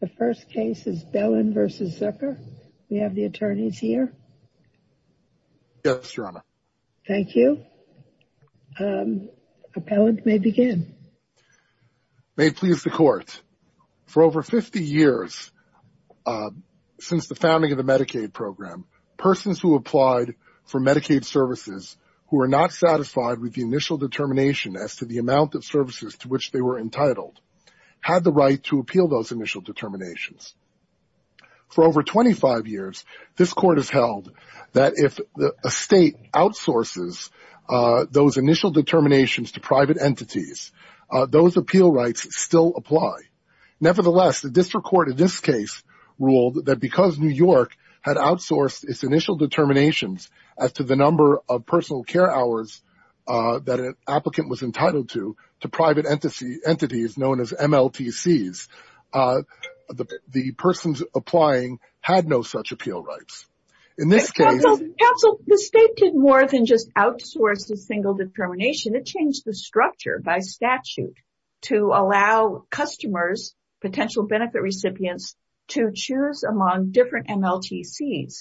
The first case is Bellin v. Zucker. We have the attorneys here. Yes, Your Honor. Thank you. Appellant, may begin. May it please the Court. For over 50 years since the founding of the Medicaid program, persons who applied for Medicaid services who were not satisfied with the initial determination as to amount of services to which they were entitled had the right to appeal those initial determinations. For over 25 years, this Court has held that if a state outsources those initial determinations to private entities, those appeal rights still apply. Nevertheless, the District Court in this case ruled that because New York had outsourced its initial determinations as to the number of to private entities known as MLTCs, the persons applying had no such appeal rights. In this case, the state did more than just outsource the single determination. It changed the structure by statute to allow customers, potential benefit recipients, to choose among different MLTCs.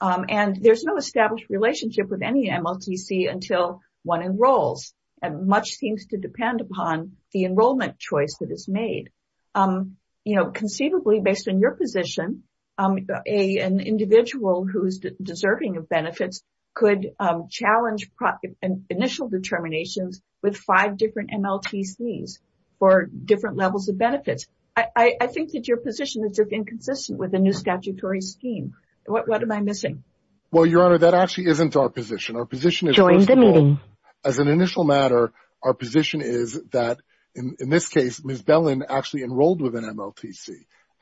There is no established relationship with any MLTC until one enrolls. Much seems to depend upon the enrollment choice that is made. Conceivably, based on your position, an individual who is deserving of benefits could challenge initial determinations with five different MLTCs for different levels of benefits. I think that your position is inconsistent with the new statutory scheme. What am I missing? Well, Your Honor, that actually isn't our position. Our position is, first of all, as an initial matter, our position is that in this case, Ms. Bellin actually enrolled with an MLTC.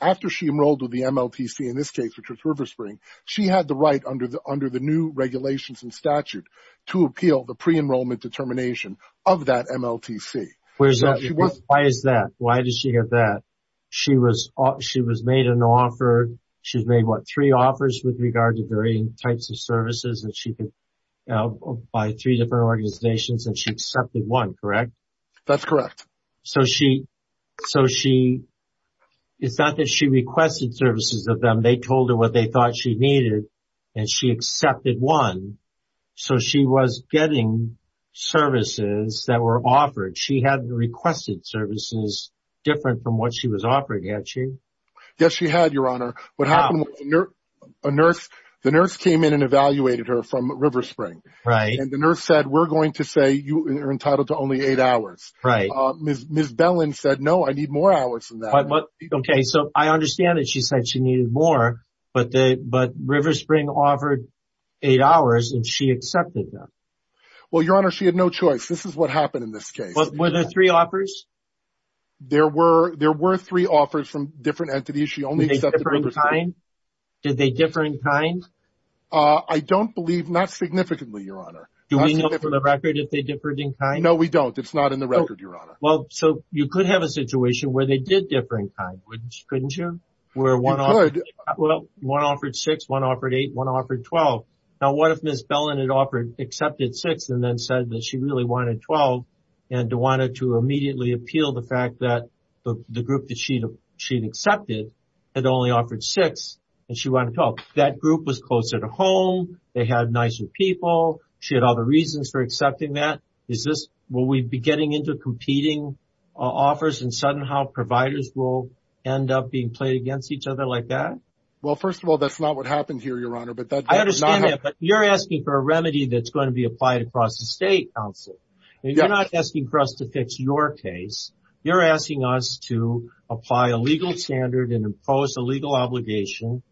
After she enrolled with the MLTC in this case, which was RiverSpring, she had the right under the new regulations and statute to appeal the pre-enrollment determination of that MLTC. Why is that? Why did she get that? She was made an offer. She made three offers with regard to varying types of services by three different organizations, and she accepted one, correct? That's correct. So, it's not that she requested services of them. They told her what they thought she needed, and she accepted one. So, she was getting services that were offered. She had requested services different from what was offered, had she? Yes, she had, Your Honor. The nurse came in and evaluated her from RiverSpring, and the nurse said, we're going to say you are entitled to only eight hours. Ms. Bellin said, no, I need more hours than that. Okay, so I understand that she said she needed more, but RiverSpring offered eight hours, and she accepted them. Well, Your Honor, she had no three offers. There were three offers from different entities. Did they differ in kind? I don't believe, not significantly, Your Honor. Do we know for the record if they differed in kind? No, we don't. It's not in the record, Your Honor. Well, so you could have a situation where they did differ in kind, couldn't you? You could. Well, one offered six, one offered eight, one offered 12. Now, what if Ms. Bellin had accepted six and then said that she really wanted 12, and wanted to immediately appeal the fact that the group that she'd accepted had only offered six, and she wanted 12? That group was closer to home, they had nicer people, she had other reasons for accepting that. Will we be getting into competing offers, and somehow providers will end up being played against each other like that? Well, first of all, that's not what happened here, Your Honor. I understand that, but you're asking for a remedy that's going to be applied across the State Council. You're not asking for us to fix your case. You're asking us to apply a legal standard and impose a legal obligation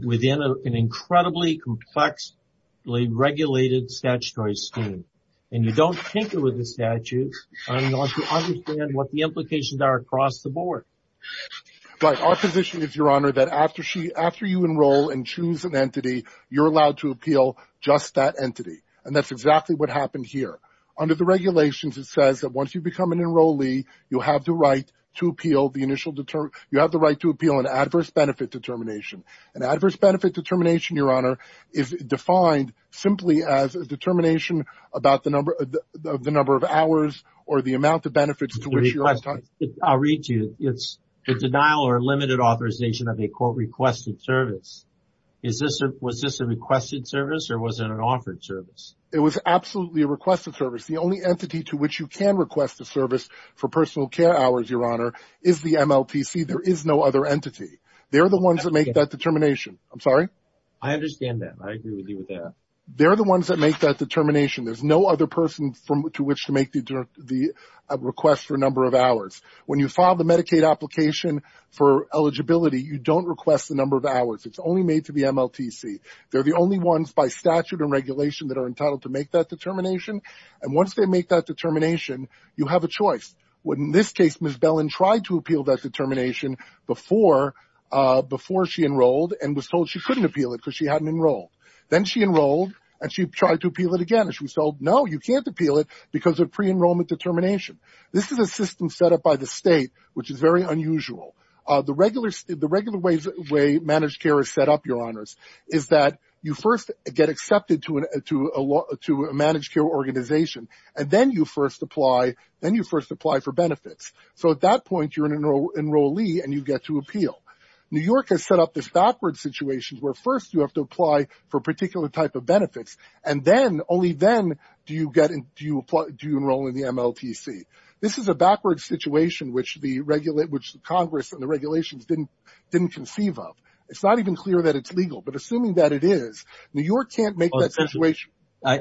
within an incredibly complexly regulated statutory scheme, and you don't tinker with the statutes in order to understand what the implications are across the board. Right. Our position is, Your Honor, that after you enroll and choose an entity, you're allowed to appeal just that entity, and that's exactly what happened here. Under the regulations, it says that once you become an enrollee, you have the right to appeal an adverse benefit determination. An adverse benefit determination, Your Honor, is defined simply as a determination about the number of hours or the amount of benefits to which you're entitled. I'll read to you. It's a denial or requested service. Was this a requested service or was it an offered service? It was absolutely a requested service. The only entity to which you can request the service for personal care hours, Your Honor, is the MLTC. There is no other entity. They're the ones that make that determination. I'm sorry? I understand that. I agree with you with that. They're the ones that make that determination. There's no other person to which to make the request for a number of hours. When you file the Medicaid application for eligibility, you don't request the number of hours. It's only made to the MLTC. They're the only ones by statute and regulation that are entitled to make that determination, and once they make that determination, you have a choice. In this case, Ms. Bellin tried to appeal that determination before she enrolled and was told she couldn't appeal it because she hadn't enrolled. Then she enrolled, and she tried to appeal it again, and she was told, No, you can't appeal it because of pre-enrollment determination. This is a system set up by the state, which is very unusual. The regular way managed care is set up, Your Honors, is that you first get accepted to a managed care organization, and then you first apply for benefits. At that point, you're an enrollee, and you get to appeal. New York has set up this backward situation where first you have to apply for a particular type of benefits, and only then do you enroll in the MLTC. This is a backward situation, which the Congress and the regulations didn't conceive of. It's not even clear that it's legal, but assuming that it is, New York can't make that situation. I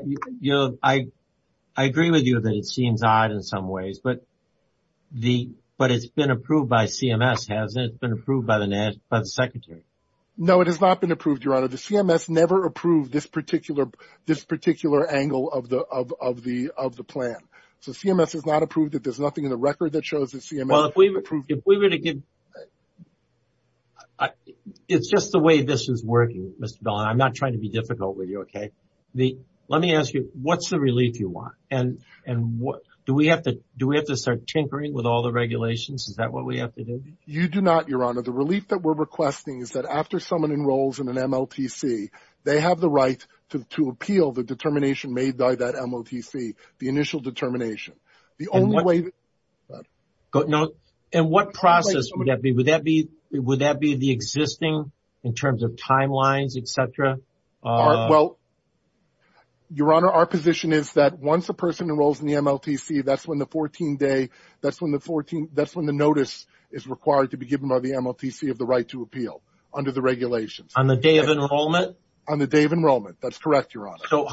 agree with you that it seems odd in some ways, but it's been approved by CMS, hasn't it? It's been approved by the Secretary. No, it has not been approved, Your Honor. CMS never approved this particular angle of the plan. CMS has not approved it. It's just the way this is working, Mr. Bellin. I'm not trying to be difficult with you. Let me ask you, what's the relief you want? Do we have to start tinkering with all the regulations? Is that what we have to do? You do not, Your Honor. The relief that we're requesting is that after someone enrolls in an MLTC, they have the right to appeal the determination made by that MLTC, the initial determination. What process would that be? Would that be the existing in terms of timelines, et cetera? Your Honor, our position is that once a person enrolls in the MLTC, that's when the notice is required to be given by the MLTC of the right to appeal under the regulations. On the day of enrollment? On the day of enrollment. That's correct, Your Honor.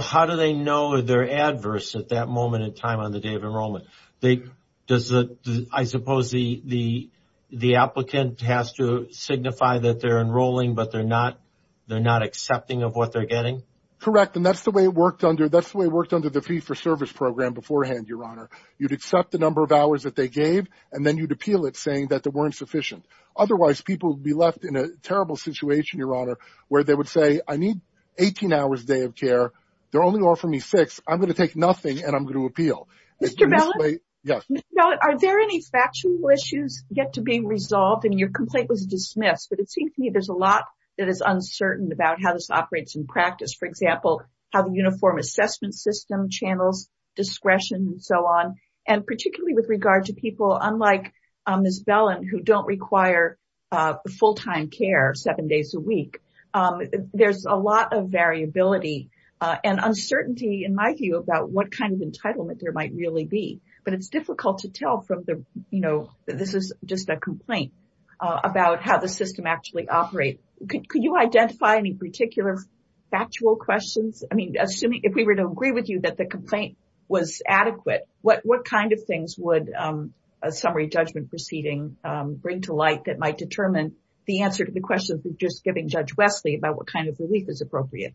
How do they know they're adverse at that moment in time on the day of enrollment? I suppose the applicant has to signify that they're enrolling, but they're not accepting of what they're getting? Correct. That's the way it worked under the service program beforehand, Your Honor. You'd accept the number of hours that they gave, and then you'd appeal it saying that they weren't sufficient. Otherwise, people would be left in a terrible situation, Your Honor, where they would say, I need 18 hours day of care. They're only offering me six. I'm going to take nothing, and I'm going to appeal. Are there any factual issues yet to be resolved? Your complaint was dismissed, but it seems to me there's a lot that is uncertain about how this operates in practice. For example, how the uniform assessment system channels discretion and so on, and particularly with regard to people, unlike Ms. Bellin, who don't require full-time care seven days a week. There's a lot of variability and uncertainty, in my view, about what kind of entitlement there might really be, but it's difficult to tell from the, you know, this is just a complaint about how the system actually operates. Could you identify any particular factual questions? I mean, assuming, if we were to agree with you that the complaint was adequate, what kind of things would a summary judgment proceeding bring to light that might determine the answer to the question of just giving Judge Wesley about what kind of relief is appropriate?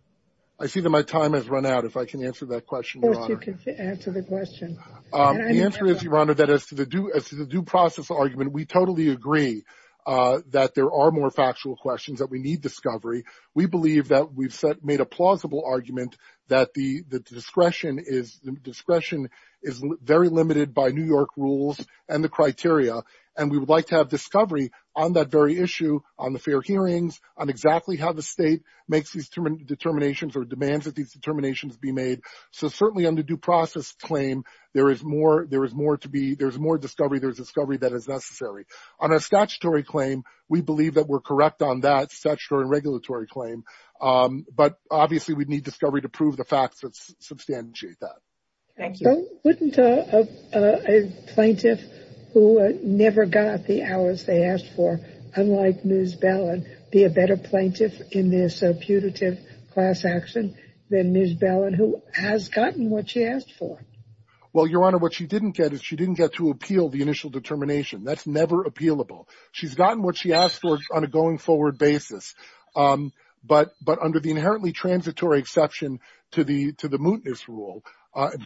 I see that my time has run out. If I can answer that question. Of course you can answer the question. The answer is, Your Honor, that as to the due process argument, we totally agree that there are more factual questions, that we need discovery. We believe that we've made a plausible argument that the discretion is very limited by New York rules and the criteria, and we would like to have discovery on that very issue, on the fair hearings, on exactly how the state makes these determinations or demands that these determinations be made. So certainly on the due process claim, there is more, there is more to be, there's more discovery, there's discovery that is necessary. On a statutory claim, we believe that we're correct on that statutory regulatory claim, but obviously we'd need discovery to prove the facts that substantiate that. Thank you. Wouldn't a plaintiff who never got the hours they asked for, unlike Ms. Bellin, be a better plaintiff in this putative class action than Ms. Bellin, who has gotten what she asked for? Well, Your Honor, what she didn't get is, she didn't get to appeal the initial determination. That's never appealable. She's gotten what she asked for on a going forward basis, but under the inherently transitory exception to the mootness rule,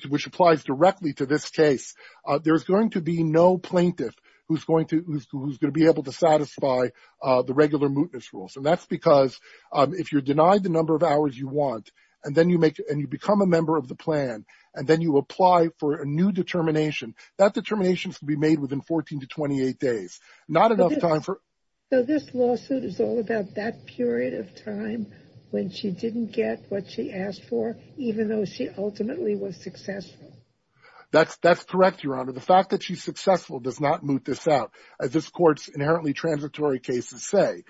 which applies directly to this case, there's going to be no plaintiff who's going to be able to satisfy the regular mootness rules. And that's because if you're denied the number of hours you and then you become a member of the plan, and then you apply for a new determination, that determination should be made within 14 to 28 days, not enough time for... This lawsuit is all about that period of time when she didn't get what she asked for, even though she ultimately was successful. That's correct, Your Honor. The fact that she's successful does not moot this out. As this court's inherently transitory cases say,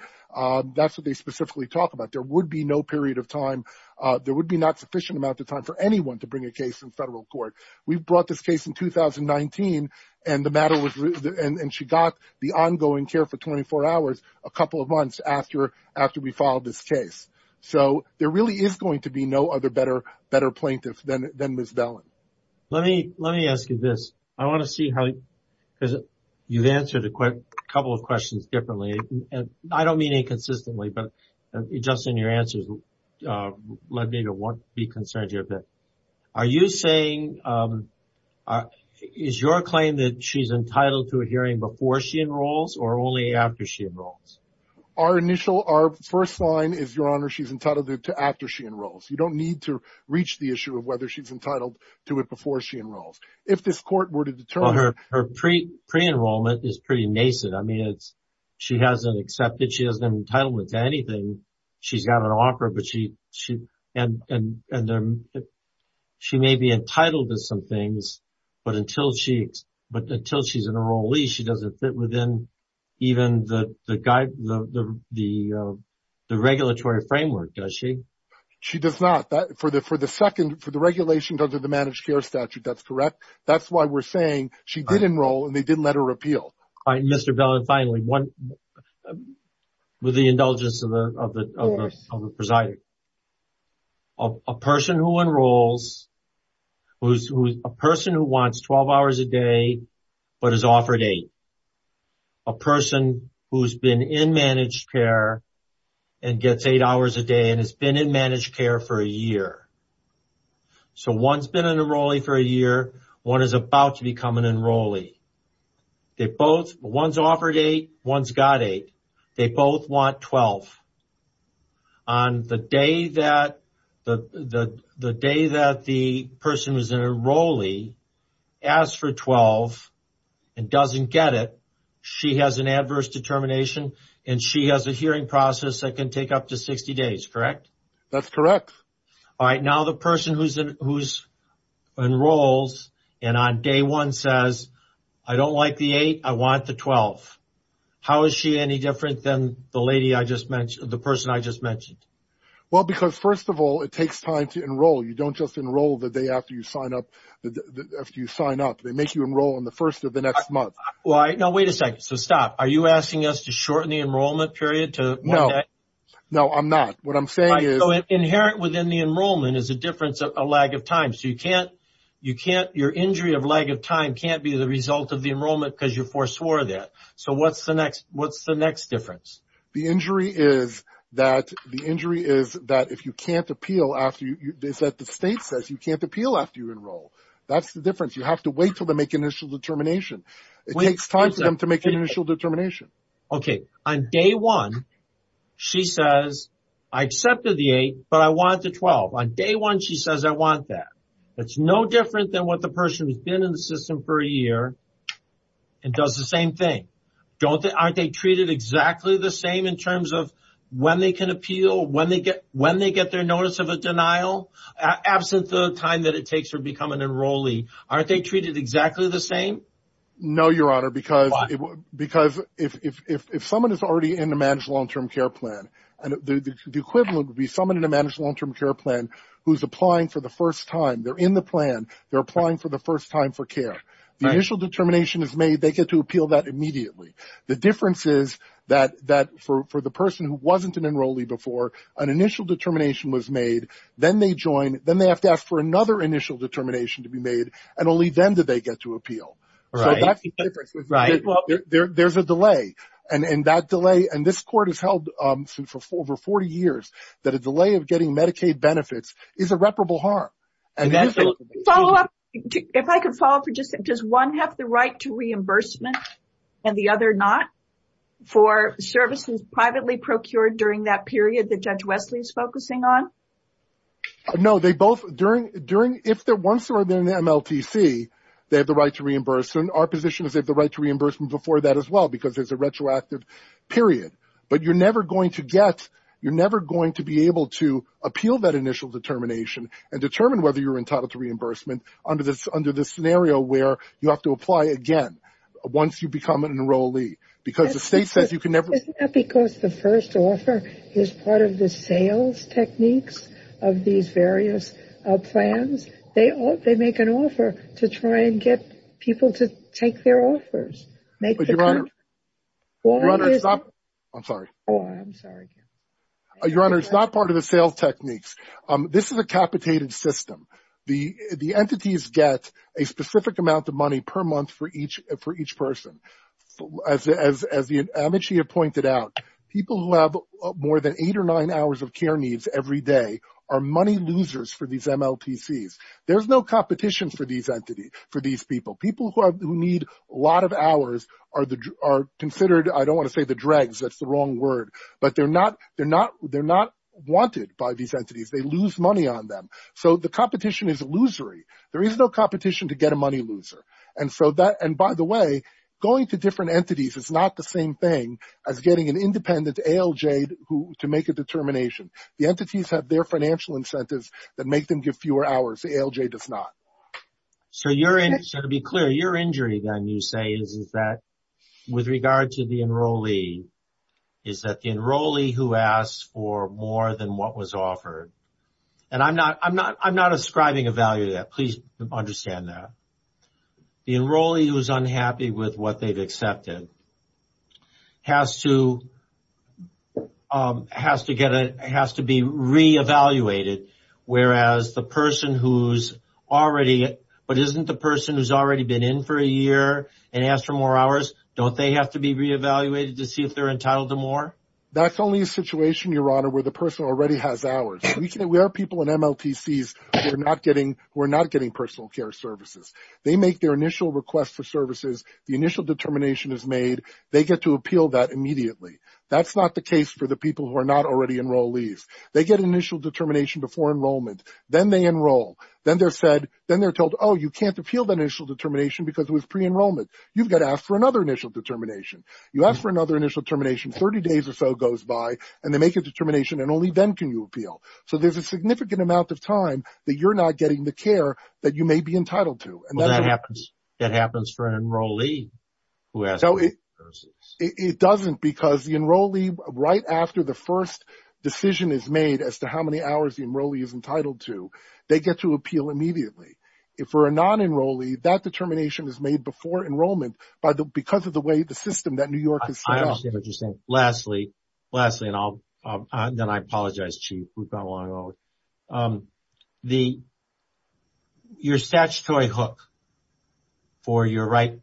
that's what they specifically talk about. There would be no period of time, there would be not sufficient amount of time for anyone to bring a case in federal court. We brought this case in 2019, and the matter was... And she got the ongoing care for 24 hours a couple of months after we filed this case. So there really is going to be no other better plaintiff than Ms. Bellin. Let me ask you this. I want to see how... You've answered a couple of questions differently. I don't mean inconsistently, but just in your answers, let me be concerned here a bit. Are you saying... Is your claim that she's entitled to a hearing before she enrolls or only after she enrolls? Our initial... Our first line is, Your Honor, she's entitled to it after she enrolls. You don't need to reach the issue of whether she's entitled to it before she enrolls. If this court were to enroll, it is pretty nascent. I mean, it's... She hasn't accepted, she hasn't been entitled to anything. She's got an offer, but she... And she may be entitled to some things, but until she's an enrollee, she doesn't fit within even the regulatory framework, does she? She does not. For the second... For the regulation under the managed care statute, that's correct. That's why we're saying she did enroll and they did let her appeal. All right, Mr. Bellin, finally, with the indulgence of the presiding. A person who enrolls, a person who wants 12 hours a day, but is offered eight. A person who's been in managed care and gets eight hours a day and has been in managed care for a year. So one's been an enrollee for a year, one is about to become an enrollee. They both... One's offered eight, one's got eight. They both want 12. On the day that the person who's an enrollee asks for 12 and doesn't get it, she has an adverse determination, and she has a hearing process that can take up to 60 days, correct? That's correct. All right, now the person who enrolls and on day one says, I don't like the eight, I want the 12. How is she any different than the lady I just mentioned, the person I just mentioned? Well, because first of all, it takes time to enroll. You don't just enroll the day after you sign up. They make you enroll on the first of the next month. Why? No, wait a second. So stop. Are you asking us to shorten the enrollment period to... No, I'm not. What I'm saying is... Inherent within the enrollment is a difference, a lag of time. So you can't... Your injury of lag of time can't be the result of the enrollment because you forswore that. So what's the next difference? The injury is that if you can't appeal after you... It's that the state says you can't appeal after you enroll. That's the difference. You have to wait till they make initial determination. It takes time for them make an initial determination. Okay. On day one, she says, I accepted the eight, but I want the 12. On day one, she says, I want that. That's no different than what the person who's been in the system for a year and does the same thing. Don't they... Aren't they treated exactly the same in terms of when they can appeal, when they get their notice of a denial, absent the time that it takes to become an enrollee? Aren't they treated exactly the same? No, Your Honor, because if someone is already in the managed long-term care plan, and the equivalent would be someone in a managed long-term care plan who's applying for the first time. They're in the plan. They're applying for the first time for care. The initial determination is made. They get to appeal that immediately. The difference is that for the person who wasn't an enrollee before, an initial determination was made. Then they join. Then they have to ask for a deferral. That's the difference. There's a delay. This court has held for over 40 years that a delay of getting Medicaid benefits is irreparable harm. If I could follow up. Does one have the right to reimbursement and the other not for services privately procured during that period that Judge Wesley is focusing on? No, they both. If they're once they're in the MLTC, they have the right to reimburse. Our position is they have the right to reimbursement before that as well, because there's a retroactive period. But you're never going to be able to appeal that initial determination and determine whether you're entitled to reimbursement under this scenario where you have to apply again once you become an enrollee, because the state says you can never... Isn't that because the first offer is part of the sales techniques of these various plans? They make an offer to try and get people to take their offers. Your Honor, it's not part of the sales techniques. This is a capitated system. The entities get a specific amount of money per month for each person. As the MHTA pointed out, people who have more than eight or nine hours of care needs every day are money losers for these MLTCs. There's no competition for these people. People who need a lot of hours are considered, I don't want to say the dregs, that's the wrong word, but they're not wanted by these entities. They lose money on them. So the competition is money loser. By the way, going to different entities is not the same thing as getting an independent ALJ to make a determination. The entities have their financial incentives that make them give fewer hours. The ALJ does not. So to be clear, your injury then, you say, is that with regard to the enrollee, is that the enrollee who asks for more than what was offered... And I'm not ascribing a value to that. Please understand that. The enrollee who's unhappy with what they've accepted has to be re-evaluated, whereas the person who's already... But isn't the person who's already been in for a year and asked for more hours, don't they have to be re-evaluated to see if they're entitled to more? That's only a situation, Your Honor, where the person already has hours. We are people in MLTCs who are not getting personal care services. They make their initial request for services. The initial determination is made. They get to appeal that immediately. That's not the case for the people who are not already enrollees. They get initial determination before enrollment. Then they enroll. Then they're told, oh, you can't appeal the initial determination because it was pre-enrollment. You've got to ask for another initial determination. You ask for another initial determination. Thirty days or so goes by, and they make a determination, and only then can you appeal. So there's a significant amount of time that you're not getting the care that you may be entitled to. Well, that happens for an enrollee who has... So it doesn't because the enrollee, right after the first decision is made as to how many hours the enrollee is entitled to, they get to appeal immediately. For a non-enrollee, that determination is made before enrollment because of the way the system that New York has set up. Lastly, and then I apologize, Chief. We've gone a long way. Your statutory hook for your right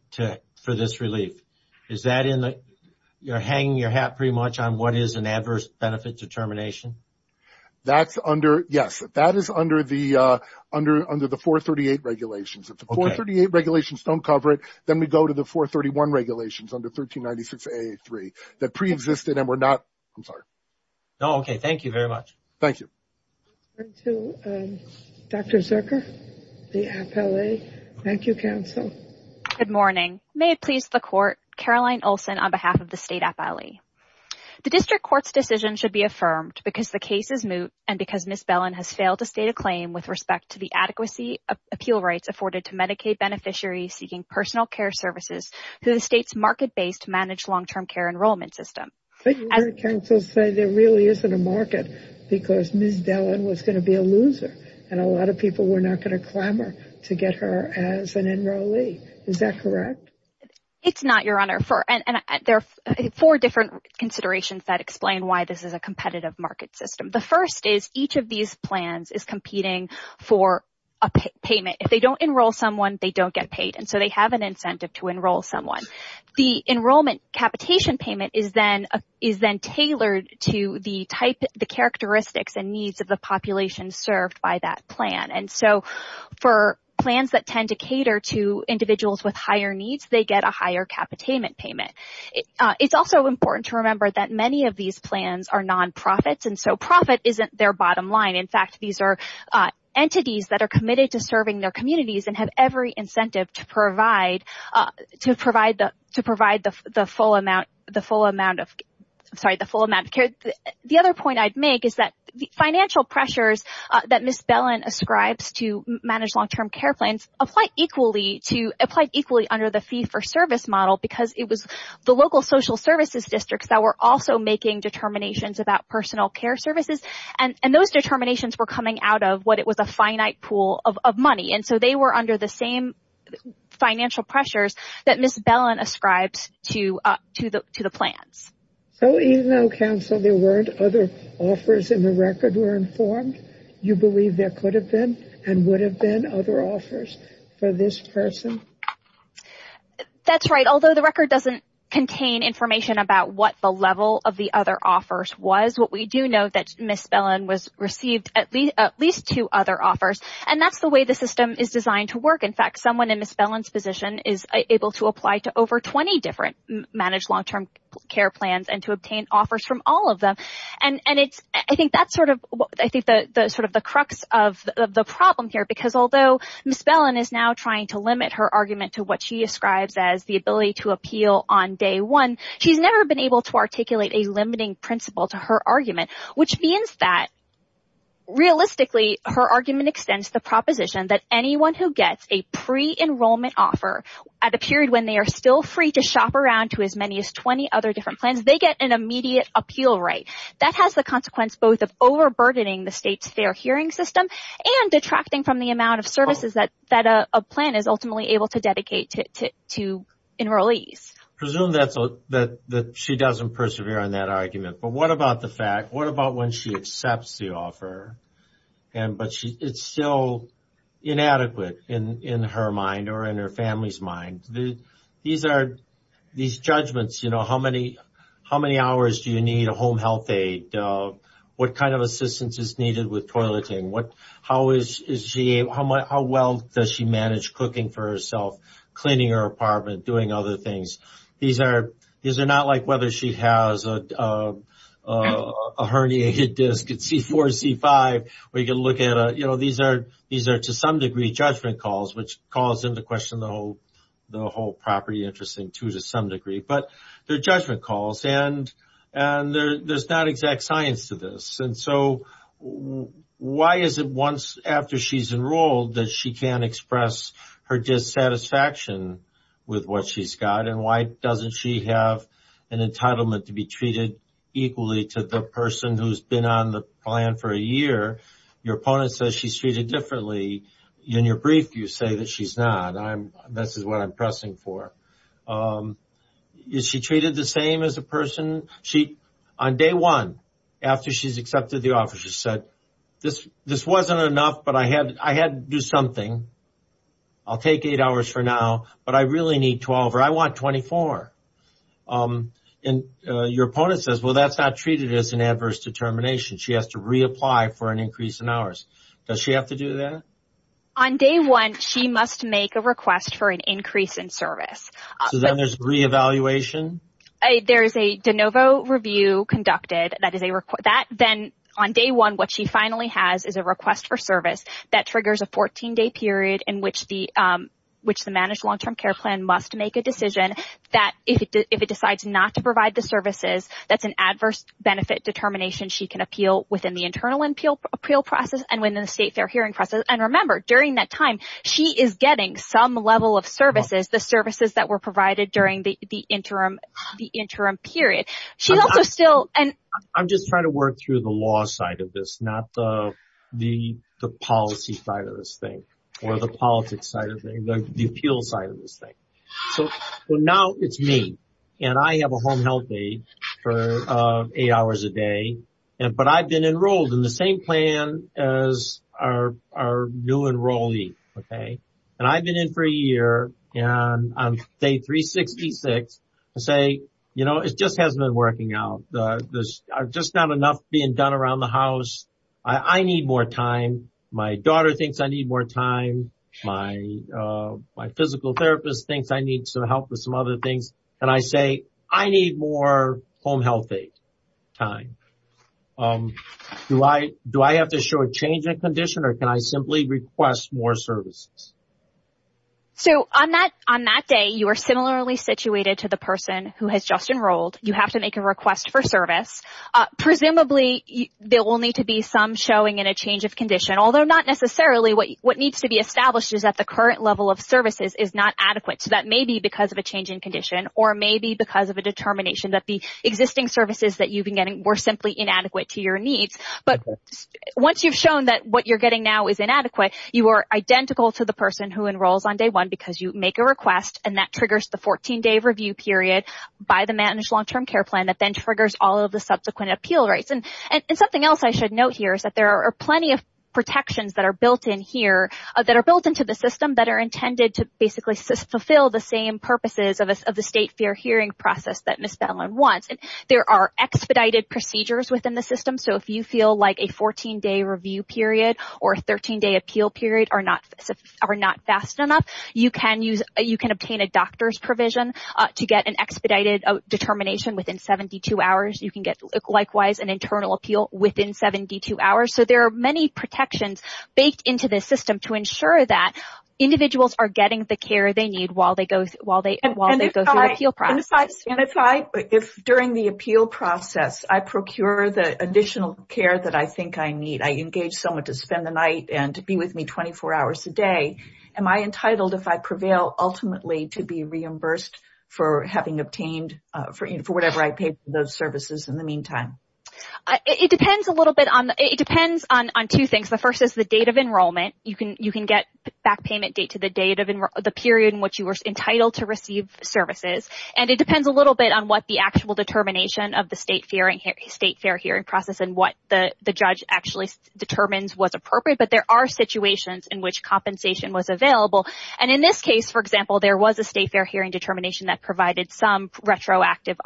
for this relief, is that in the... You're hanging your hat pretty much on what is an adverse benefit determination? Yes, that is under the 438 regulations. If the 438 regulations don't cover it, then we go to the 431 regulations under 1396A3 that preexisted and were not... I'm sorry. No, okay. Thank you very much. Thank you. Let's turn to Dr. Zucker, the FLE. Thank you, counsel. Good morning. May it please the court, Caroline Olson on behalf of the state FLE. The district court's decision should be affirmed because the case is moot and because Ms. Bellin has failed to state a claim with respect to the adequacy of appeal rights afforded to Medicaid beneficiaries seeking personal care services through the state's market-based managed long-term care enrollment system. But you heard counsel say there really isn't a market because Ms. Bellin was going to be a loser and a lot of people were not going to clamor to get her as an enrollee. Is that correct? It's not, Your Honor. There are four different considerations that explain why this is a competitive market system. The first is each of these plans is competing for a payment. If they don't enroll someone, they don't get paid and so they have an incentive to enroll someone. The enrollment capitation payment is then tailored to the characteristics and needs of the population served by that plan. And so, for plans that tend to cater to individuals with higher needs, they get a higher capital payment payment. It's also important to remember that many of these plans are nonprofits and so profit isn't their bottom line. In fact, these are committed to serving their communities and have every incentive to provide the full amount of care. The other point I'd make is that the financial pressures that Ms. Bellin ascribes to manage long-term care plans apply equally under the fee-for-service model because it was the local social services districts that were also making determinations about personal care services and those determinations were coming out of what it was a finite pool of money and so they were under the same financial pressures that Ms. Bellin ascribes to the plans. So even though, counsel, there weren't other offers in the record were informed, you believe there could have been and would have been other offers for this person? That's right. Although the record doesn't contain information about what the level of the other offers was, what we do know is that Ms. Bellin was received at least two other offers and that's the way the system is designed to work. In fact, someone in Ms. Bellin's position is able to apply to over 20 different managed long-term care plans and to obtain offers from all of them. I think that's sort of the crux of the problem here because although Ms. Bellin is now trying to limit her argument to what she ascribes as the ability to appeal on day one, she's never been able to articulate a limiting principle to her argument which means that realistically her argument extends the proposition that anyone who gets a pre-enrollment offer at a period when they are still free to shop around to as many as 20 other different plans, they get an immediate appeal right. That has the consequence both of overburdening the state's fair hearing system and detracting from the amount of services that a plan is ultimately able to dedicate to enrollees. Presume that she doesn't persevere on that argument, but what about the fact, what about when she accepts the offer and but it's still inadequate in her mind or in her family's mind. These judgments, you know, how many hours do you need a home health aide, what kind of assistance is needed with toileting, how well does she manage cooking for herself, cleaning her apartment, doing other things. These are not like whether she has a herniated disc at C4 or C5 where you can look at, you know, these are to some degree judgment calls which calls into question the whole property interest to some degree, but they're judgment calls and there's not exact science to this. And so why is it once after she's enrolled that she can't express her dissatisfaction with what she's got and why doesn't she have an entitlement to be treated equally to the person who's been on the plan for a year. Your opponent says she's treated differently, in your brief you say that she's not. This is what I'm pressing for. Is she treated the same as a person she on day one after she's accepted the offer, she said this wasn't enough but I had to do something. I'll take eight hours for now but I really need 12 or I want 24. And your opponent says well that's not treated as an adverse determination. She has to reapply for an increase in hours. Does she have to do that? On day one she must make a request for an increase in service. So then there's re-evaluation? There's a de novo review conducted that is a request that then on day one what she finally has is a request for service that triggers a 14-day period in which the managed long-term care plan must make a decision that if it decides not to provide the services that's an adverse benefit determination she can appeal within the internal appeal process and within the state fair hearing process. And remember during that time she is getting some level of services that were provided during the interim period. I'm just trying to work through the law side of this not the policy side of this thing or the politics side of the appeal side of this thing. So now it's me and I have a home health aide for eight hours a day but I've been enrolled in the plan as our new enrollee. And I've been in for a year and on day 366 I say you know it just hasn't been working out. There's just not enough being done around the house. I need more time. My daughter thinks I need more time. My physical therapist thinks I need some help with some other things. And I say I need more home health aide time. Do I have to show a change in condition or can I simply request more services? So on that day you are similarly situated to the person who has just enrolled. You have to make a request for service. Presumably there will need to be some showing in a change of condition although not necessarily. What needs to be established is the current level of services is not adequate. So that may be because of a change in condition or maybe because of a determination that the existing services that you've been getting were simply inadequate to your needs. But once you've shown that what you're getting now is inadequate you are identical to the person who enrolls on day one because you make a request and that triggers the 14-day review period by the managed long-term care plan that then triggers all of the subsequent appeal rights. And something else I should note here is that there are plenty of built-in here that are built into the system that are intended to basically fulfill the same purposes of the state fair hearing process that Ms. Bellin wants. There are expedited procedures within the system so if you feel like a 14-day review period or a 13-day appeal period are not fast enough you can obtain a doctor's provision to get an expedited determination within 72 hours. You can get likewise an internal appeal within 72 hours. So there are protections baked into this system to ensure that individuals are getting the care they need while they go through the appeal process. If during the appeal process I procure the additional care that I think I need, I engage someone to spend the night and to be with me 24 hours a day, am I entitled if I prevail ultimately to be reimbursed for whatever I paid for those services in the date of enrollment. You can get back payment date to the date of the period in which you were entitled to receive services. And it depends a little bit on what the actual determination of the state fair hearing process and what the judge actually determines was appropriate. But there are situations in which compensation was available. And in this case, for example, there was a state fair hearing determination that provided some retroactive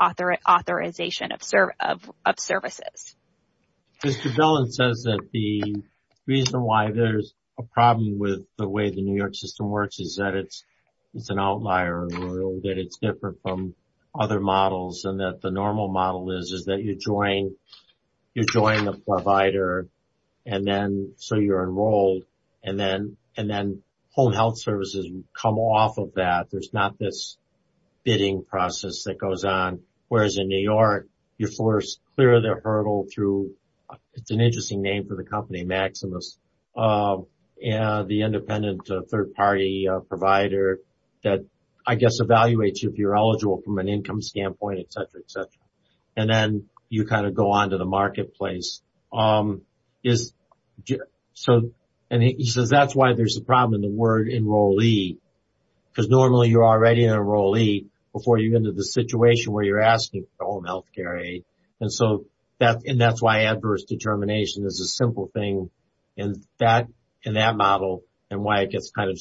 authorization of services. Mr. Dillon says that the reason why there's a problem with the way the New York system works is that it's an outlier or that it's different from other models and that the normal model is is that you're joining a provider and then so you're enrolled and then home health services come off of that. There's not this bidding process that goes on. Whereas in New York, you're forced clear of their hurdle through it's an interesting name for the company, Maximus, and the independent third party provider that I guess evaluates if you're eligible from an income standpoint, et cetera, et cetera. And then you kind of go on to the marketplace. And he says that's why there's a problem in the word enrollee, because normally you're already enrollee before you get into the situation where you're asking for home health care aid. And so that's why adverse determination is a simple thing in that model and why it gets kind of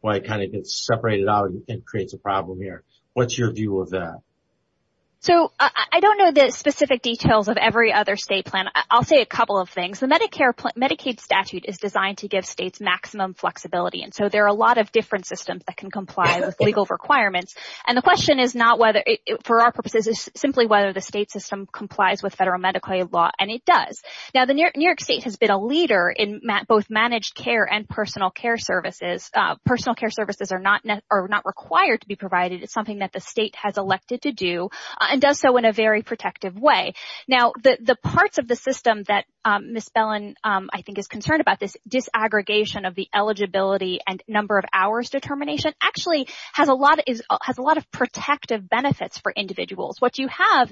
why it kind of gets separated out and creates a problem here. What's your view of that? So I don't know the specific details of every other state plan. I'll say a couple of things. The Medicare Medicaid statute is designed to give states maximum flexibility. And so there are a lot of different systems that can comply with legal requirements. And the question is not whether for our purposes is simply whether the state system complies with federal Medicaid law. And it does. Now, the New York state has been a leader in both managed care and personal care services. Personal care services are not required to be provided. It's something that the state has elected to do and does so in a very protective way. Now, the parts of the system that Ms. Bellin, I think, is concerned about this disaggregation of the eligibility and number of hours determination actually has a lot of protective benefits for individuals. What you have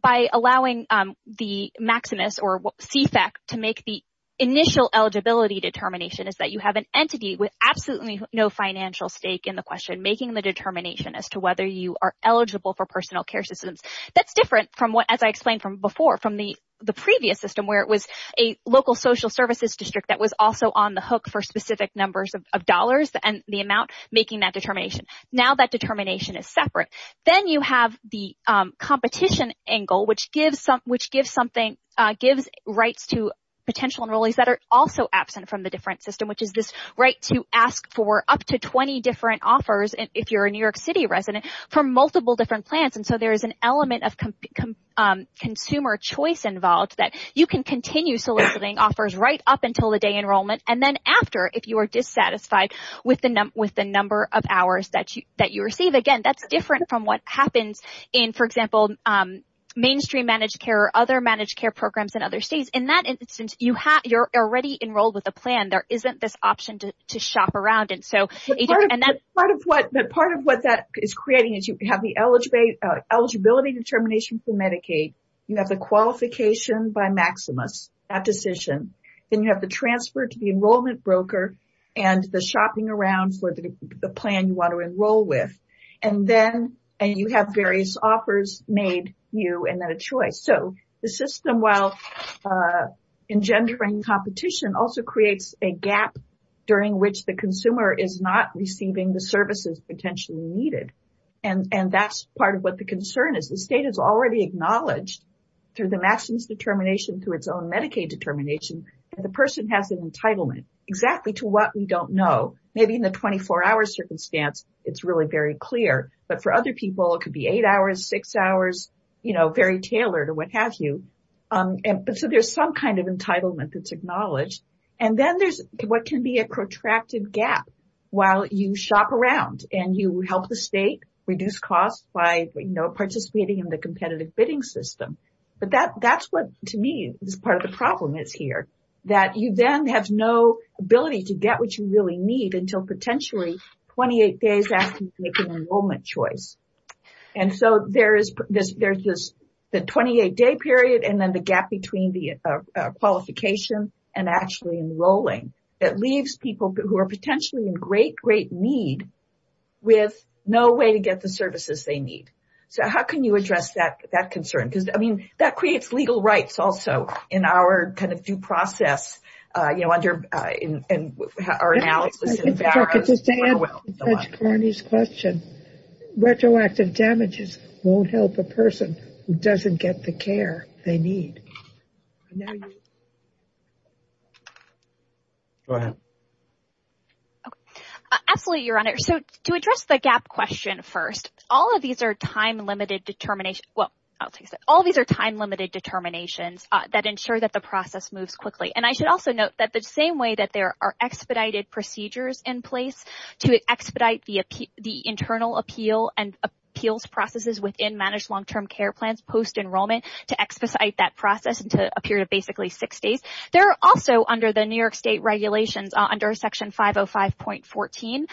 by allowing the Maximus or CFAC to make the initial eligibility determination is that you have an entity with absolutely no financial stake in the question making the determination as to whether you are eligible for personal care systems. That's different from what as I explained from before, from the previous system, where it was a local social services district that was also on the hook for specific numbers of dollars and the amount making that determination. Now that determination is separate. Then you have the competition angle, which gives rights to potential enrollees that are also absent from the different system, which is this right to ask for up to 20 different offers if you're a New York City resident for multiple different plans. And there's a consumer choice involved that you can continue soliciting offers right up until the day enrollment and then after if you are dissatisfied with the number of hours that you receive. Again, that's different from what happens in, for example, mainstream managed care or other managed care programs in other states. In that instance, you're already enrolled with a plan. There isn't this option to shop around. Part of what that is creating is you have the eligibility determination for Medicaid, you have the qualification by Maximus, that decision, then you have the transfer to the enrollment broker and the shopping around for the plan you want to enroll with. And then you have various offers made you and then a choice. So the system, while engendering competition, also creates a gap during which the consumer is not receiving the services potentially needed. And that's part of what the concern is. The state has already acknowledged through the Maximus determination, through its own Medicaid determination, that the person has an entitlement exactly to what we don't know. Maybe in the 24-hour circumstance, it's really very clear. But for other people, it could be eight hours, six hours, you know, very tailored or what have you. So there's some kind of entitlement that's gap while you shop around and you help the state reduce costs by, you know, participating in the competitive bidding system. But that's what, to me, is part of the problem is here. That you then have no ability to get what you really need until potentially 28 days after you make an enrollment choice. And so there's this 28-day period and then the gap between the qualification and actually enrolling that leaves people who are potentially in great, great need with no way to get the services they need. So how can you address that concern? Because, I mean, that creates legal rights also in our kind of due process, you know, under our analysis. Just to add to Judge Carney's question, retroactive damages won't help a person who doesn't get the care they need. Go ahead. Absolutely, Your Honor. So to address the gap question first, all of these are time-limited determinations. Well, I'll take a second. All of these are time-limited determinations that ensure that the process moves quickly. And I should also note that the same way that there are expedited procedures in place to expedite the internal appeal and appeals processes within managed long-term care plans post-enrollment to expedite that process into a period of basically six days, there are also under the New York State regulations under Section 505.14,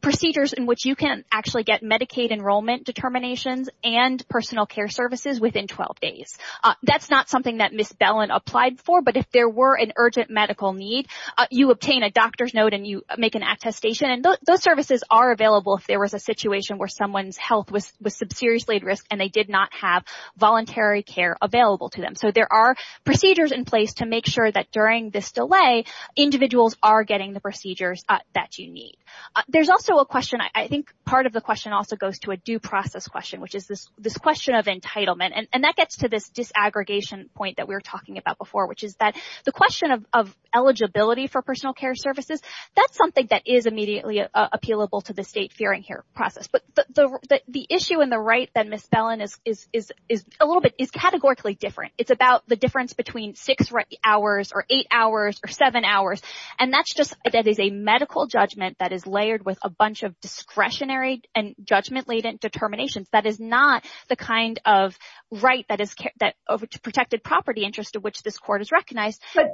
procedures in which you can actually get Medicaid enrollment determinations and personal care services within 12 days. That's not something that Ms. Bellin applied for, but if there were an urgent medical need, you obtain a doctor's note and you make an attestation. And those are available if there was a situation where someone's health was seriously at risk and they did not have voluntary care available to them. So there are procedures in place to make sure that during this delay, individuals are getting the procedures that you need. There's also a question, I think part of the question also goes to a due process question, which is this question of entitlement. And that gets to this disaggregation point that we were talking about before, which is that the question of eligibility for personal care services, that's something that is immediately appealable to the state fearing here process. But the issue in the right that Ms. Bellin is categorically different. It's about the difference between six hours or eight hours or seven hours. And that is a medical judgment that is layered with a bunch of discretionary and judgment-laden determinations. That is not the kind of right that is protected property interest of which this court is recognized. But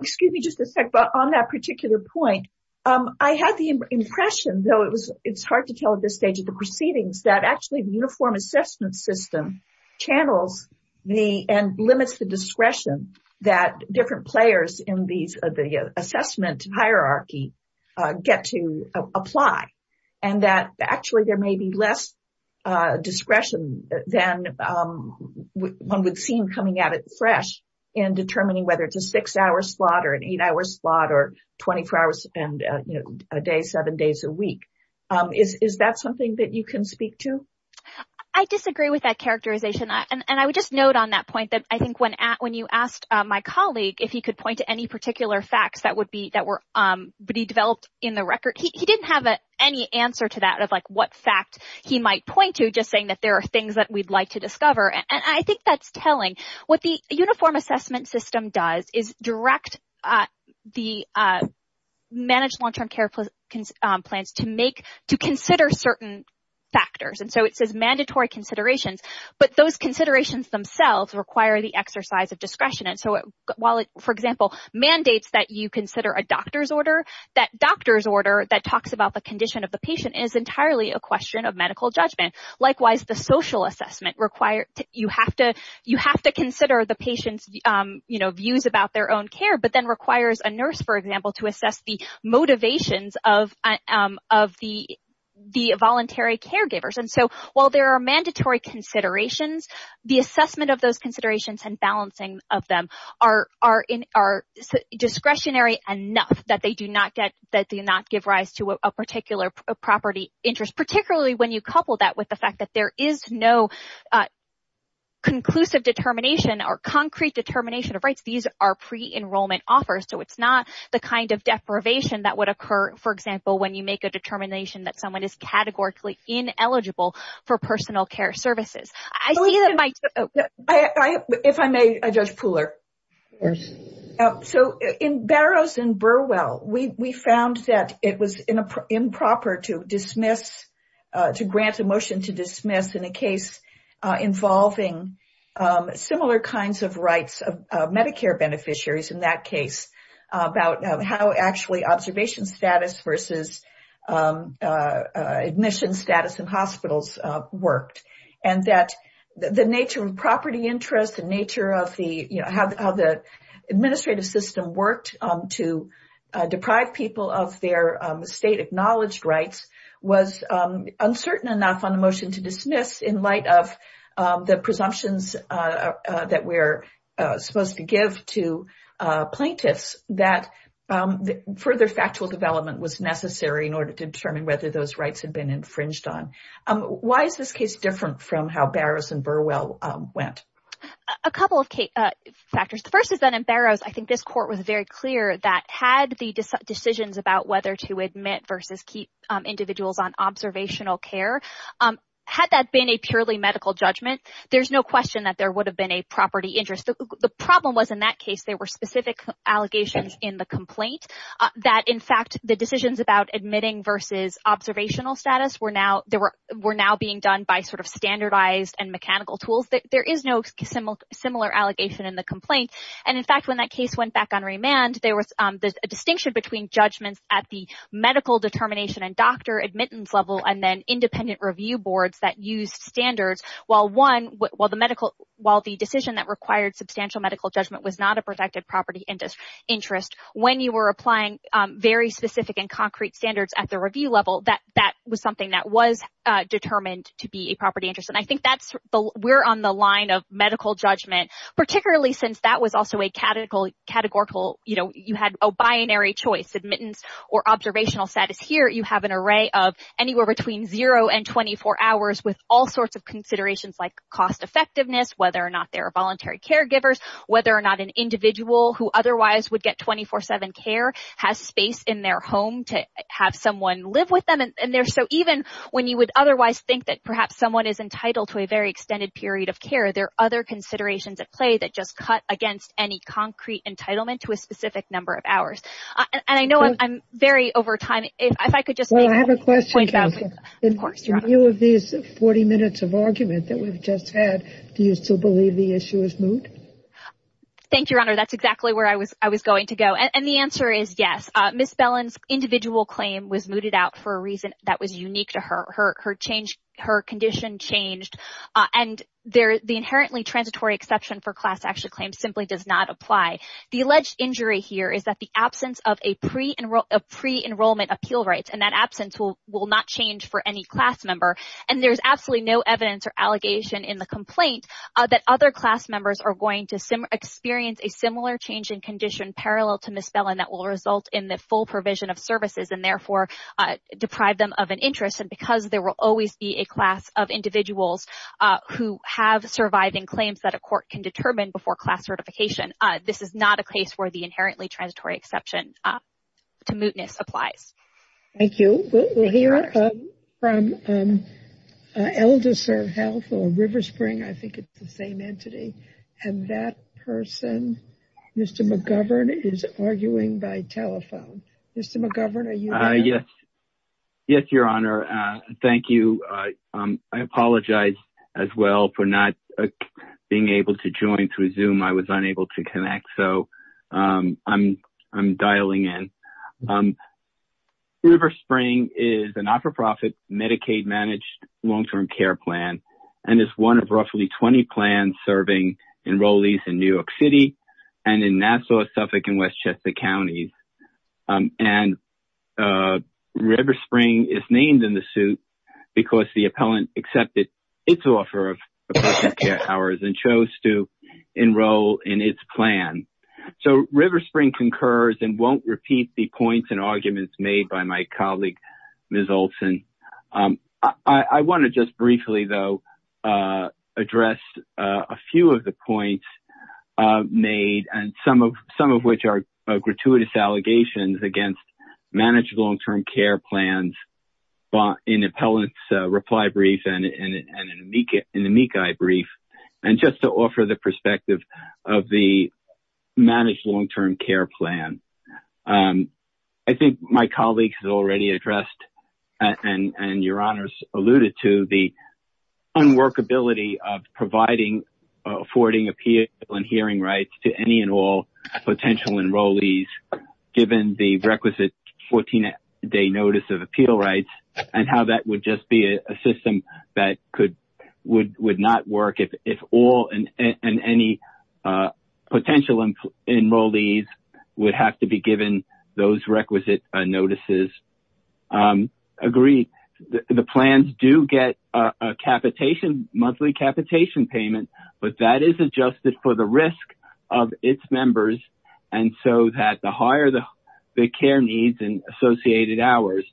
excuse me just a sec, but on that particular point, I had the impression, though it's hard to tell at this stage of the proceedings, that actually the uniform assessment system channels and limits the discretion that different players in the assessment hierarchy get to apply. And that actually there may be less discretion than one would seem coming at it fresh and determining whether it's a six-hour slot or an eight-hour slot or 24 hours and a day, seven days a week. Is that something that you can speak to? I disagree with that characterization. And I would just note on that point that I think when you asked my colleague if he could point to any particular facts that would be developed in the fact he might point to just saying that there are things that we'd like to discover. And I think that's telling what the uniform assessment system does is direct the managed long-term care plans to make to consider certain factors. And so it says mandatory considerations, but those considerations themselves require the exercise of discretion. And so while it, for example, mandates that you consider a doctor's order, that doctor's order that talks about the condition of a patient is entirely a question of medical judgment. Likewise, the social assessment requires you have to consider the patient's, you know, views about their own care, but then requires a nurse, for example, to assess the motivations of the voluntary caregivers. And so while there are mandatory considerations, the assessment of those considerations and balancing of them are discretionary enough that they do not give rise to a particular property interest, particularly when you couple that with the fact that there is no conclusive determination or concrete determination of rights. These are pre-enrollment offers, so it's not the kind of deprivation that would occur, for example, when you make a determination that someone is categorically ineligible for personal care services. I see that my- I, if I may, Judge Pooler. So in Barrows and Burwell, we found that it was improper to dismiss, to grant a motion to dismiss in a case involving similar kinds of rights of Medicare beneficiaries in that case about how actually observation status versus admission status in hospitals worked. And that the nature of property interest, the nature of the, you know, how the administrative system worked to deprive people of their state-acknowledged rights was uncertain enough on the motion to dismiss in light of the presumptions that we're supposed to give to plaintiffs that further factual development was necessary in order to determine whether those rights had been infringed on. Why is this case different from how Barrows and Burwell went? A couple of factors. The first is that in Barrows, I think this court was very clear that had the decisions about whether to admit versus keep observational care, had that been a purely medical judgment, there's no question that there would have been a property interest. The problem was in that case, there were specific allegations in the complaint that, in fact, the decisions about admitting versus observational status were now being done by sort of standardized and mechanical tools. There is no similar allegation in the complaint. And in fact, when that case went back on remand, there was a distinction between judgments at the medical determination and doctor admittance level and then independent review boards that used standards. While the decision that required substantial medical judgment was not a protected property interest, when you were applying very specific and concrete standards at the review level, that was something that was determined to be a property interest. And I think we're on the line of medical judgment, particularly since that was also a categorical, you know, you had a binary choice, admittance or observational status. Here you have an array of anywhere between zero and 24 hours with all sorts of considerations like cost effectiveness, whether or not there are voluntary caregivers, whether or not an individual who otherwise would get 24-7 care has space in their home to have someone live with them. And they're so even when you would otherwise think that perhaps someone is entitled to a very extended period of care. There are other considerations at play that just cut against any concrete entitlement to a specific number of hours. And I know I'm very over time. If I could just have a question. You have these 40 minutes of argument that we've just had. Do you still believe the issue is moot? Thank you, Your Honor. That's exactly where I was. I was going to go. And the answer is yes. Miss Bellin's individual claim was mooted out for a reason that was unique to her. Her condition changed. And the inherently transitory exception for class action claims simply does not apply. The alleged injury here is that the absence of a pre-enrollment appeal rights and that absence will not change for any class member. And there's absolutely no evidence or allegation in the complaint that other class members are going to experience a similar change in condition parallel to Miss Bellin that will result in the full provision of services and deprive them of an interest. And because there will always be a class of individuals who have surviving claims that a court can determine before class certification, this is not a case where the inherently transitory exception to mootness applies. Thank you. We'll hear from ElderServe Health or RiverSpring. I think it's the same entity. And that person, Mr. McGovern, is arguing by telephone. Mr. McGovern, yes. Yes, Your Honor. Thank you. I apologize as well for not being able to join through Zoom. I was unable to connect. So I'm dialing in. RiverSpring is a not-for-profit Medicaid-managed long-term care plan and is one of roughly 20 plans serving enrollees in New York City and in Nassau, Suffolk, and Westchester counties. And RiverSpring is named in the suit because the appellant accepted its offer of appropriate care hours and chose to enroll in its plan. So RiverSpring concurs and won't repeat the points and arguments made by my colleague, Ms. Olson. I want to just briefly, though, address a few of the points made, some of which are gratuitous allegations against managed long-term care plans in the appellant's reply brief and in the MECI brief, and just to offer the perspective of the managed long-term care plan. And I think my colleague has already addressed and Your Honors alluded to the unworkability of providing affording appeal and hearing rights to any and all potential enrollees given the requisite 14-day notice of appeal rights and how that would just be a system that would not work if all and any potential enrollees would have to be given those requisite notices. Agreed. The plans do get a monthly capitation payment, but that is adjusted for the risk of its members. And so that the higher the care needs and associated hours,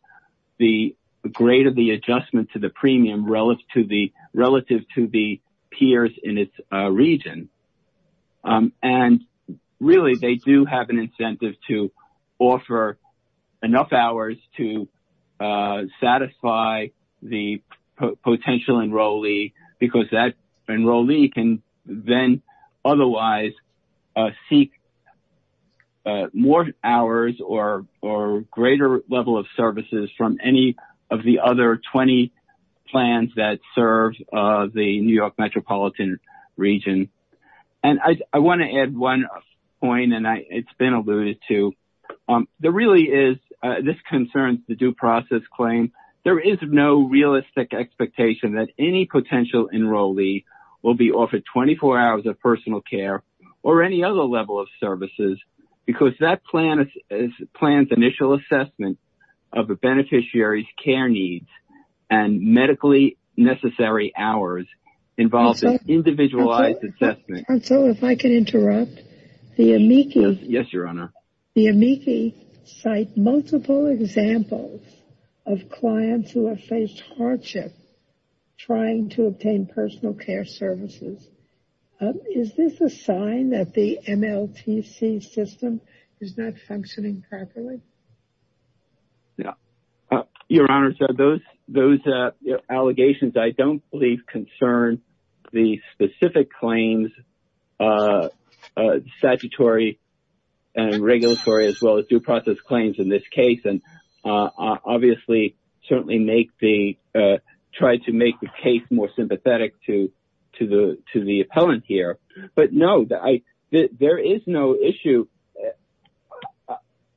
the greater the adjustment to the premium relative to the peers in its region. And really, they do have an incentive to offer enough hours to satisfy the potential enrollee because that enrollee can then otherwise seek more hours or greater level of services from any of the other 20 plans that serve the New York metropolitan region. And I want to add one point, and it's been alluded to. There really is, this concerns the process claim. There is no realistic expectation that any potential enrollee will be offered 24 hours of personal care or any other level of services because that plan's initial assessment of the beneficiary's care needs and medically necessary hours involves an individualized assessment. And so if I can interrupt. Yes, Your Honor. The amici cite multiple examples of clients who have faced hardship trying to obtain personal care services. Is this a sign that the MLTC system is not functioning properly? Yeah. Your Honor, so those allegations I don't believe concern the specific claims, statutory and regulatory as well as due process claims in this case. And obviously, certainly make the, try to make the case more sympathetic to the appellant here. But no, there is no issue.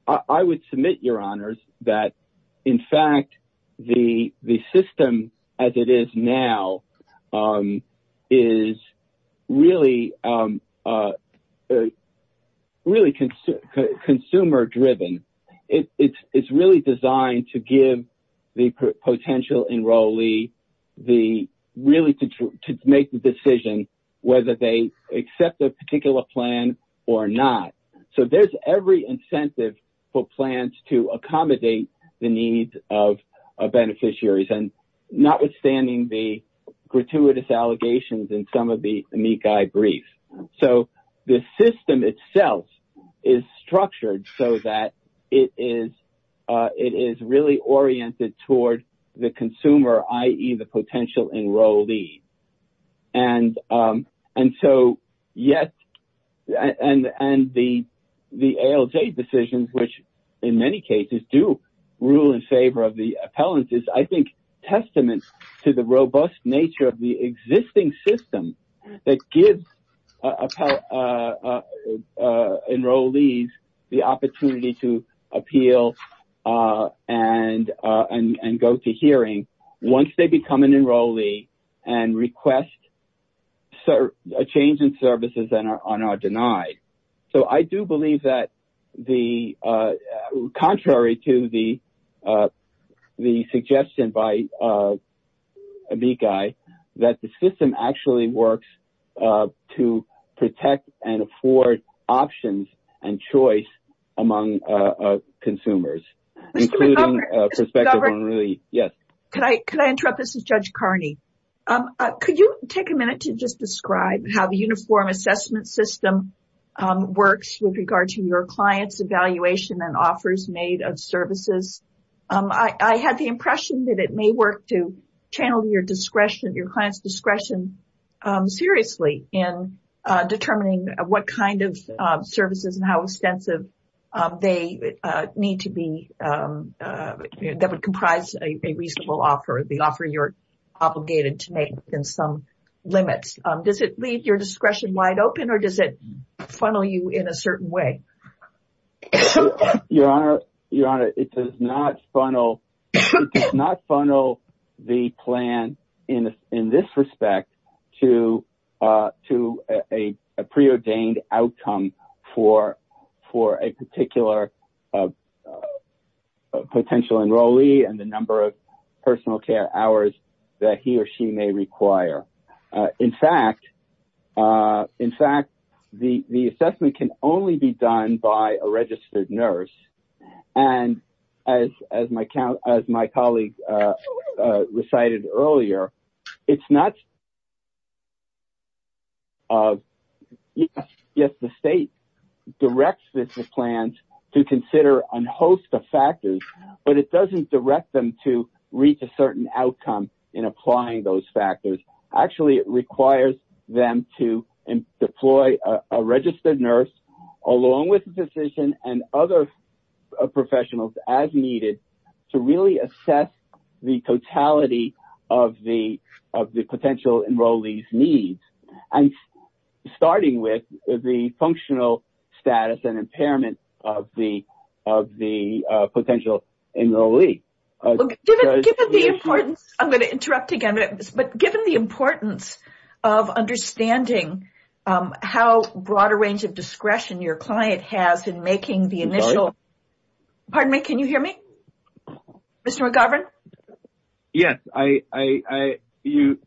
I would submit, Your Honors, that in fact, the system as it is now is really consumer driven. It's really designed to give the potential enrollee the, really to make the decision whether they accept a particular plan or not. So there's every incentive for plans to accommodate the needs of beneficiaries and notwithstanding the gratuitous allegations in some of the amici brief. So the system itself is structured so that it is really oriented toward the consumer, i.e. the potential enrollee. And so yes, and the ALJ decisions, which in many cases do rule in favor of the appellant, is I think testament to the robust nature of the existing system that gives enrollees the opportunity to appeal and go to hearing once they become an enrollee and request a change in services and are denied. So I do believe that the, contrary to the suggestion by Amikai, that the system actually works to protect and afford options and choice among consumers, including prospective enrollees. Yes. Could I interrupt? This is Judge Carney. Could you take a minute to just describe how the uniform assessment system works with regard to your client's evaluation and offers made of services? I had the impression that it may work to channel your client's discretion seriously in determining what kind of services and how extensive they need to be that would comprise a reasonable offer, the offer you're obligated to make within some limits. Does it leave your discretion wide open or does it funnel you in a certain way? Your Honor, it does not funnel the plan in this respect to a preordained outcome for a particular potential enrollee and the number of personal care hours that he or she may require. In fact, the assessment can only be done by a registered nurse and as my colleague recited earlier, it's not, yes, the state directs the plans to consider a host of factors, but it doesn't direct them to a certain outcome in applying those factors. Actually, it requires them to deploy a registered nurse along with the physician and other professionals as needed to really assess the totality of the potential enrollees' needs and starting with the functional status and I'm going to interrupt again, but given the importance of understanding how broad a range of discretion your client has in making the initial, pardon me, can you hear me? Mr. McGovern? Yes,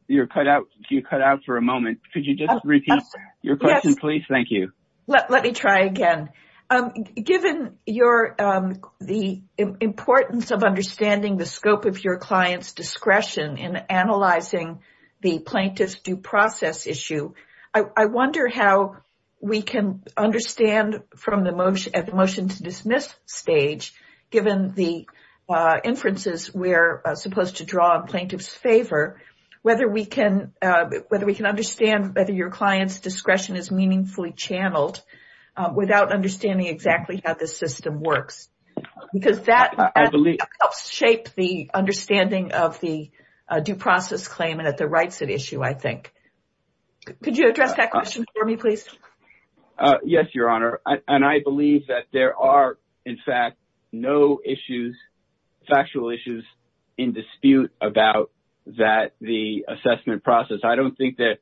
you're cut out for a moment. Could you just repeat your question, please? Thank you. Let me try again. Given the importance of understanding the scope of your client's discretion in analyzing the plaintiff's due process issue, I wonder how we can understand from the motion to dismiss stage, given the inferences we're supposed to draw in plaintiff's whether your client's discretion is meaningfully channeled without understanding exactly how the system works because that helps shape the understanding of the due process claim and at the rights at issue, I think. Could you address that question for me, please? Yes, Your Honor, and I believe that there are, in fact, no issues, factual issues in dispute about that the assessment process. I don't think that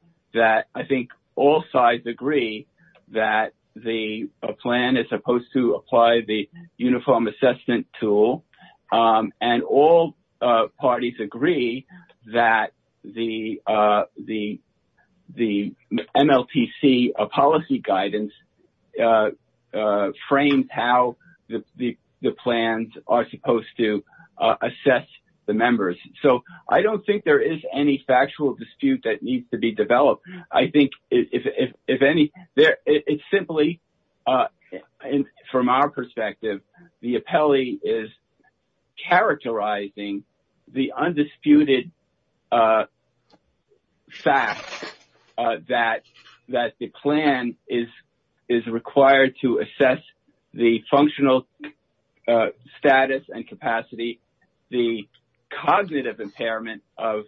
I think all sides agree that the plan is supposed to apply the uniform assessment tool and all parties agree that the MLTC policy guidance has framed how the plans are supposed to assess the members. So, I don't think there is any factual dispute that needs to be developed. I think if any, it's simply from our perspective, the appellee is characterizing the undisputed fact that the plan is required to assess the functional status and capacity, the cognitive impairment of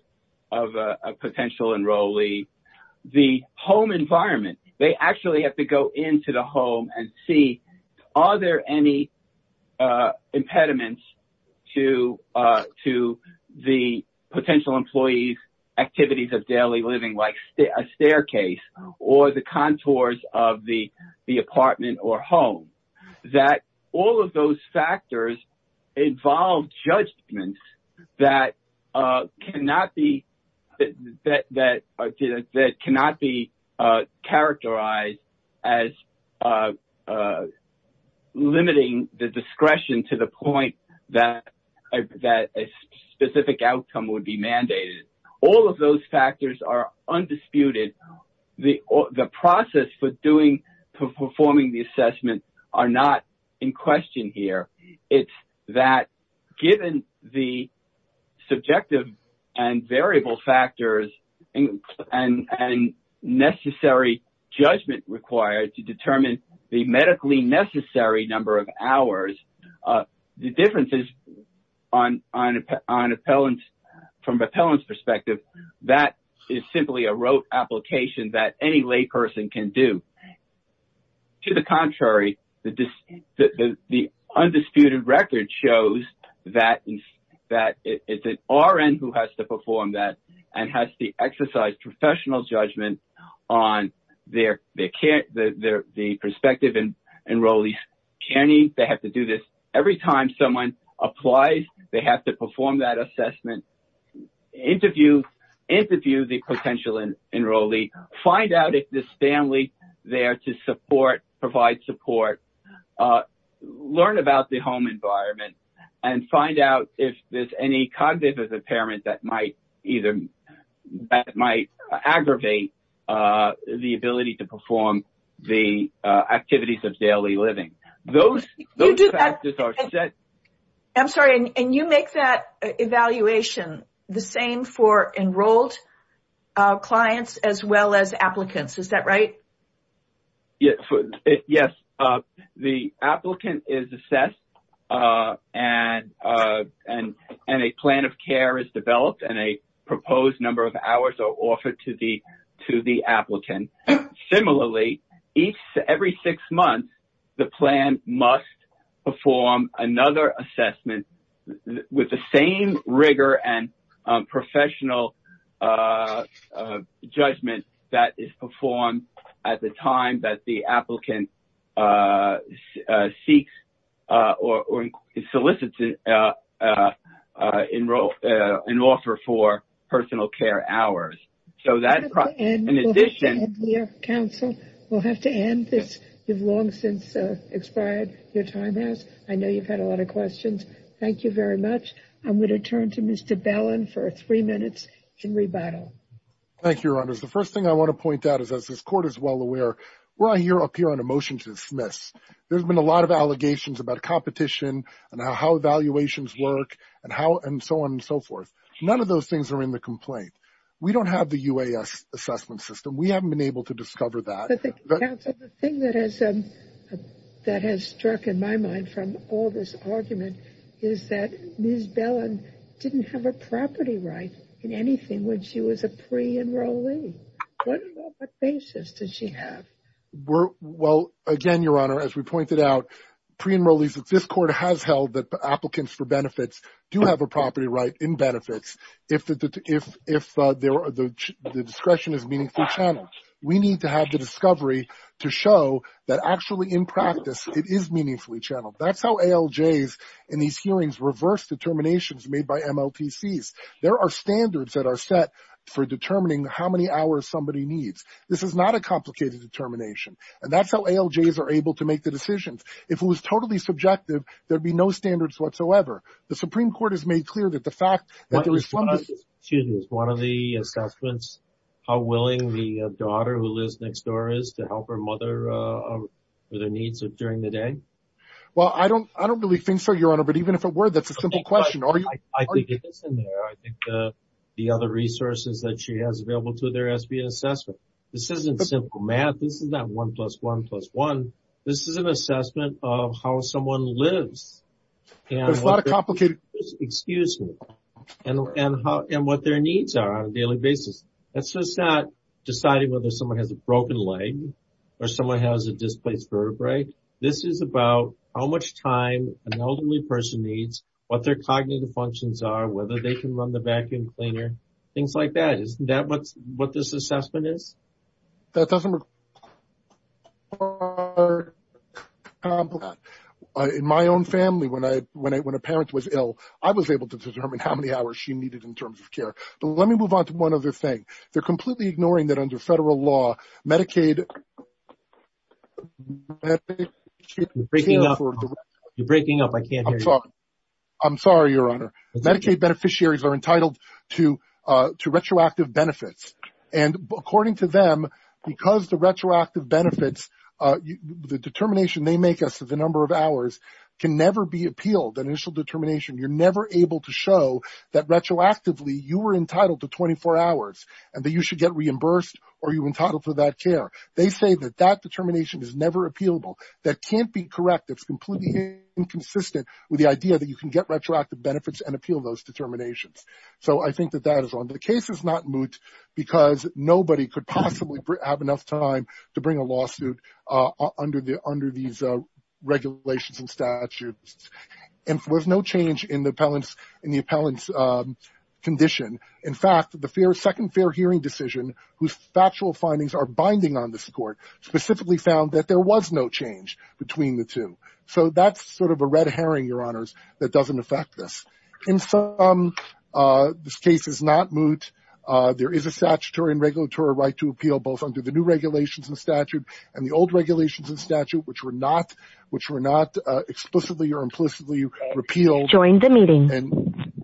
a potential enrollee, the home environment. They actually have to go into the home and see, are there any impediments to the potential employee's activities of daily living, like a staircase or the contours of the apartment or home, that all of those factors involve judgments that cannot be characterized as limiting the discretion to the point that a specific outcome would be mandated. All of those factors are undisputed. The process for performing the variable factors and necessary judgment required to determine the medically necessary number of hours, the differences from an appellant's perspective, that is simply a rote application that any layperson can do. To the contrary, the undisputed record shows that it is an RN who has to perform that and has to exercise professional judgment on the perspective and enrollees. They have to do this every time someone applies. They have to perform that and find out if there is family there to provide support. They have to learn about the home environment and find out if there is any cognitive impairment that might aggravate the ability to perform the activities of daily living. Those factors are set. I'm sorry. You make that evaluation the same for enrolled clients as well as applicants, is that right? Yes. The applicant is assessed and a plan of care is developed and a proposed number of hours are offered to the applicant. Similarly, every six months, the plan must perform another assessment with the same rigor and professional judgment that is performed at the time that the applicant seeks or solicits an offer for personal care hours. We will have to end here, counsel. We will have to end this. You have long since expired your time. I know you have had a lot of questions. Thank you very much. I will turn to Mr. Bellin for three minutes in rebuttal. Thank you, Your Honors. The first thing I want to point out is, as this Court is well aware, we are up here on a motion to dismiss. There have been a lot of allegations about competition and how evaluations work and so on and so forth. None of those things are in the complaint. We don't have the UAS assessment system. We haven't been able to discover that. The thing that has struck in my mind from all this argument is that Ms. Bellin didn't have a property right in anything when she was a pre-enrollee. What basis did she have? Well, again, Your Honor, as we pointed out, pre-enrollees, this Court has held that if the discretion is meaningfully channeled, we need to have the discovery to show that actually in practice it is meaningfully channeled. That is how ALJs in these hearings reverse determinations made by MLTCs. There are standards that are set for determining how many hours somebody needs. This is not a complicated determination. That is how ALJs are able to make the decisions. If it was totally subjective, there would be no standards whatsoever. The Supreme Court has made clear that the fact that there is one of the assessments, how willing the daughter who lives next door is to help her mother with her needs during the day. Well, I don't really think so, Your Honor, but even if it were, that's a simple question. The other resources that she has available to their SBA assessment, this isn't simple math. This is not one plus one plus one. This is an assessment of how someone lives and what their needs are on a daily basis. It's not deciding whether someone has a broken leg or someone has a displaced vertebrae. This is about how much time an elderly person needs, what their cognitive functions are, whether they can run the vacuum cleaner, things like that. Isn't that what this assessment is? That doesn't work. In my own family, when a parent was ill, I was able to determine how many hours she needed in terms of care. But let me move on to one other thing. They're completely ignoring that under federal law, Medicaid... You're breaking up. I can't hear you. I'm sorry, Your Honor. Medicaid beneficiaries are entitled to retroactive benefits. According to them, because the retroactive benefits, the determination they make as to the number of hours can never be appealed, that initial determination. You're never able to show that retroactively you were entitled to 24 hours and that you should get reimbursed or you're entitled for that care. They say that that determination is never appealable. That can't be correct. It's completely inconsistent with the idea that you can get retroactive benefits and the case is not moot because nobody could possibly have enough time to bring a lawsuit under these regulations and statutes. And there's no change in the appellant's condition. In fact, the second fair hearing decision, whose factual findings are binding on this court, specifically found that there was no change between the two. So that's sort of a red herring, that doesn't affect this. In sum, this case is not moot. There is a statutory and regulatory right to appeal both under the new regulations and statute and the old regulations and statute, which were not explicitly or implicitly repealed.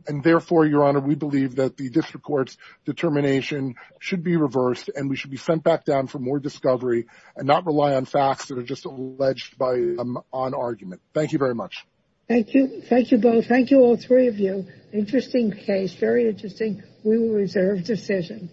And therefore, Your Honor, we believe that the district court's determination should be reversed and we should be sent back down for more discovery and not rely on facts that are just alleged by them on argument. Thank you very much. Thank you. Thank you both. Thank you, all three of you. Interesting case. Very interesting. We will reserve decision.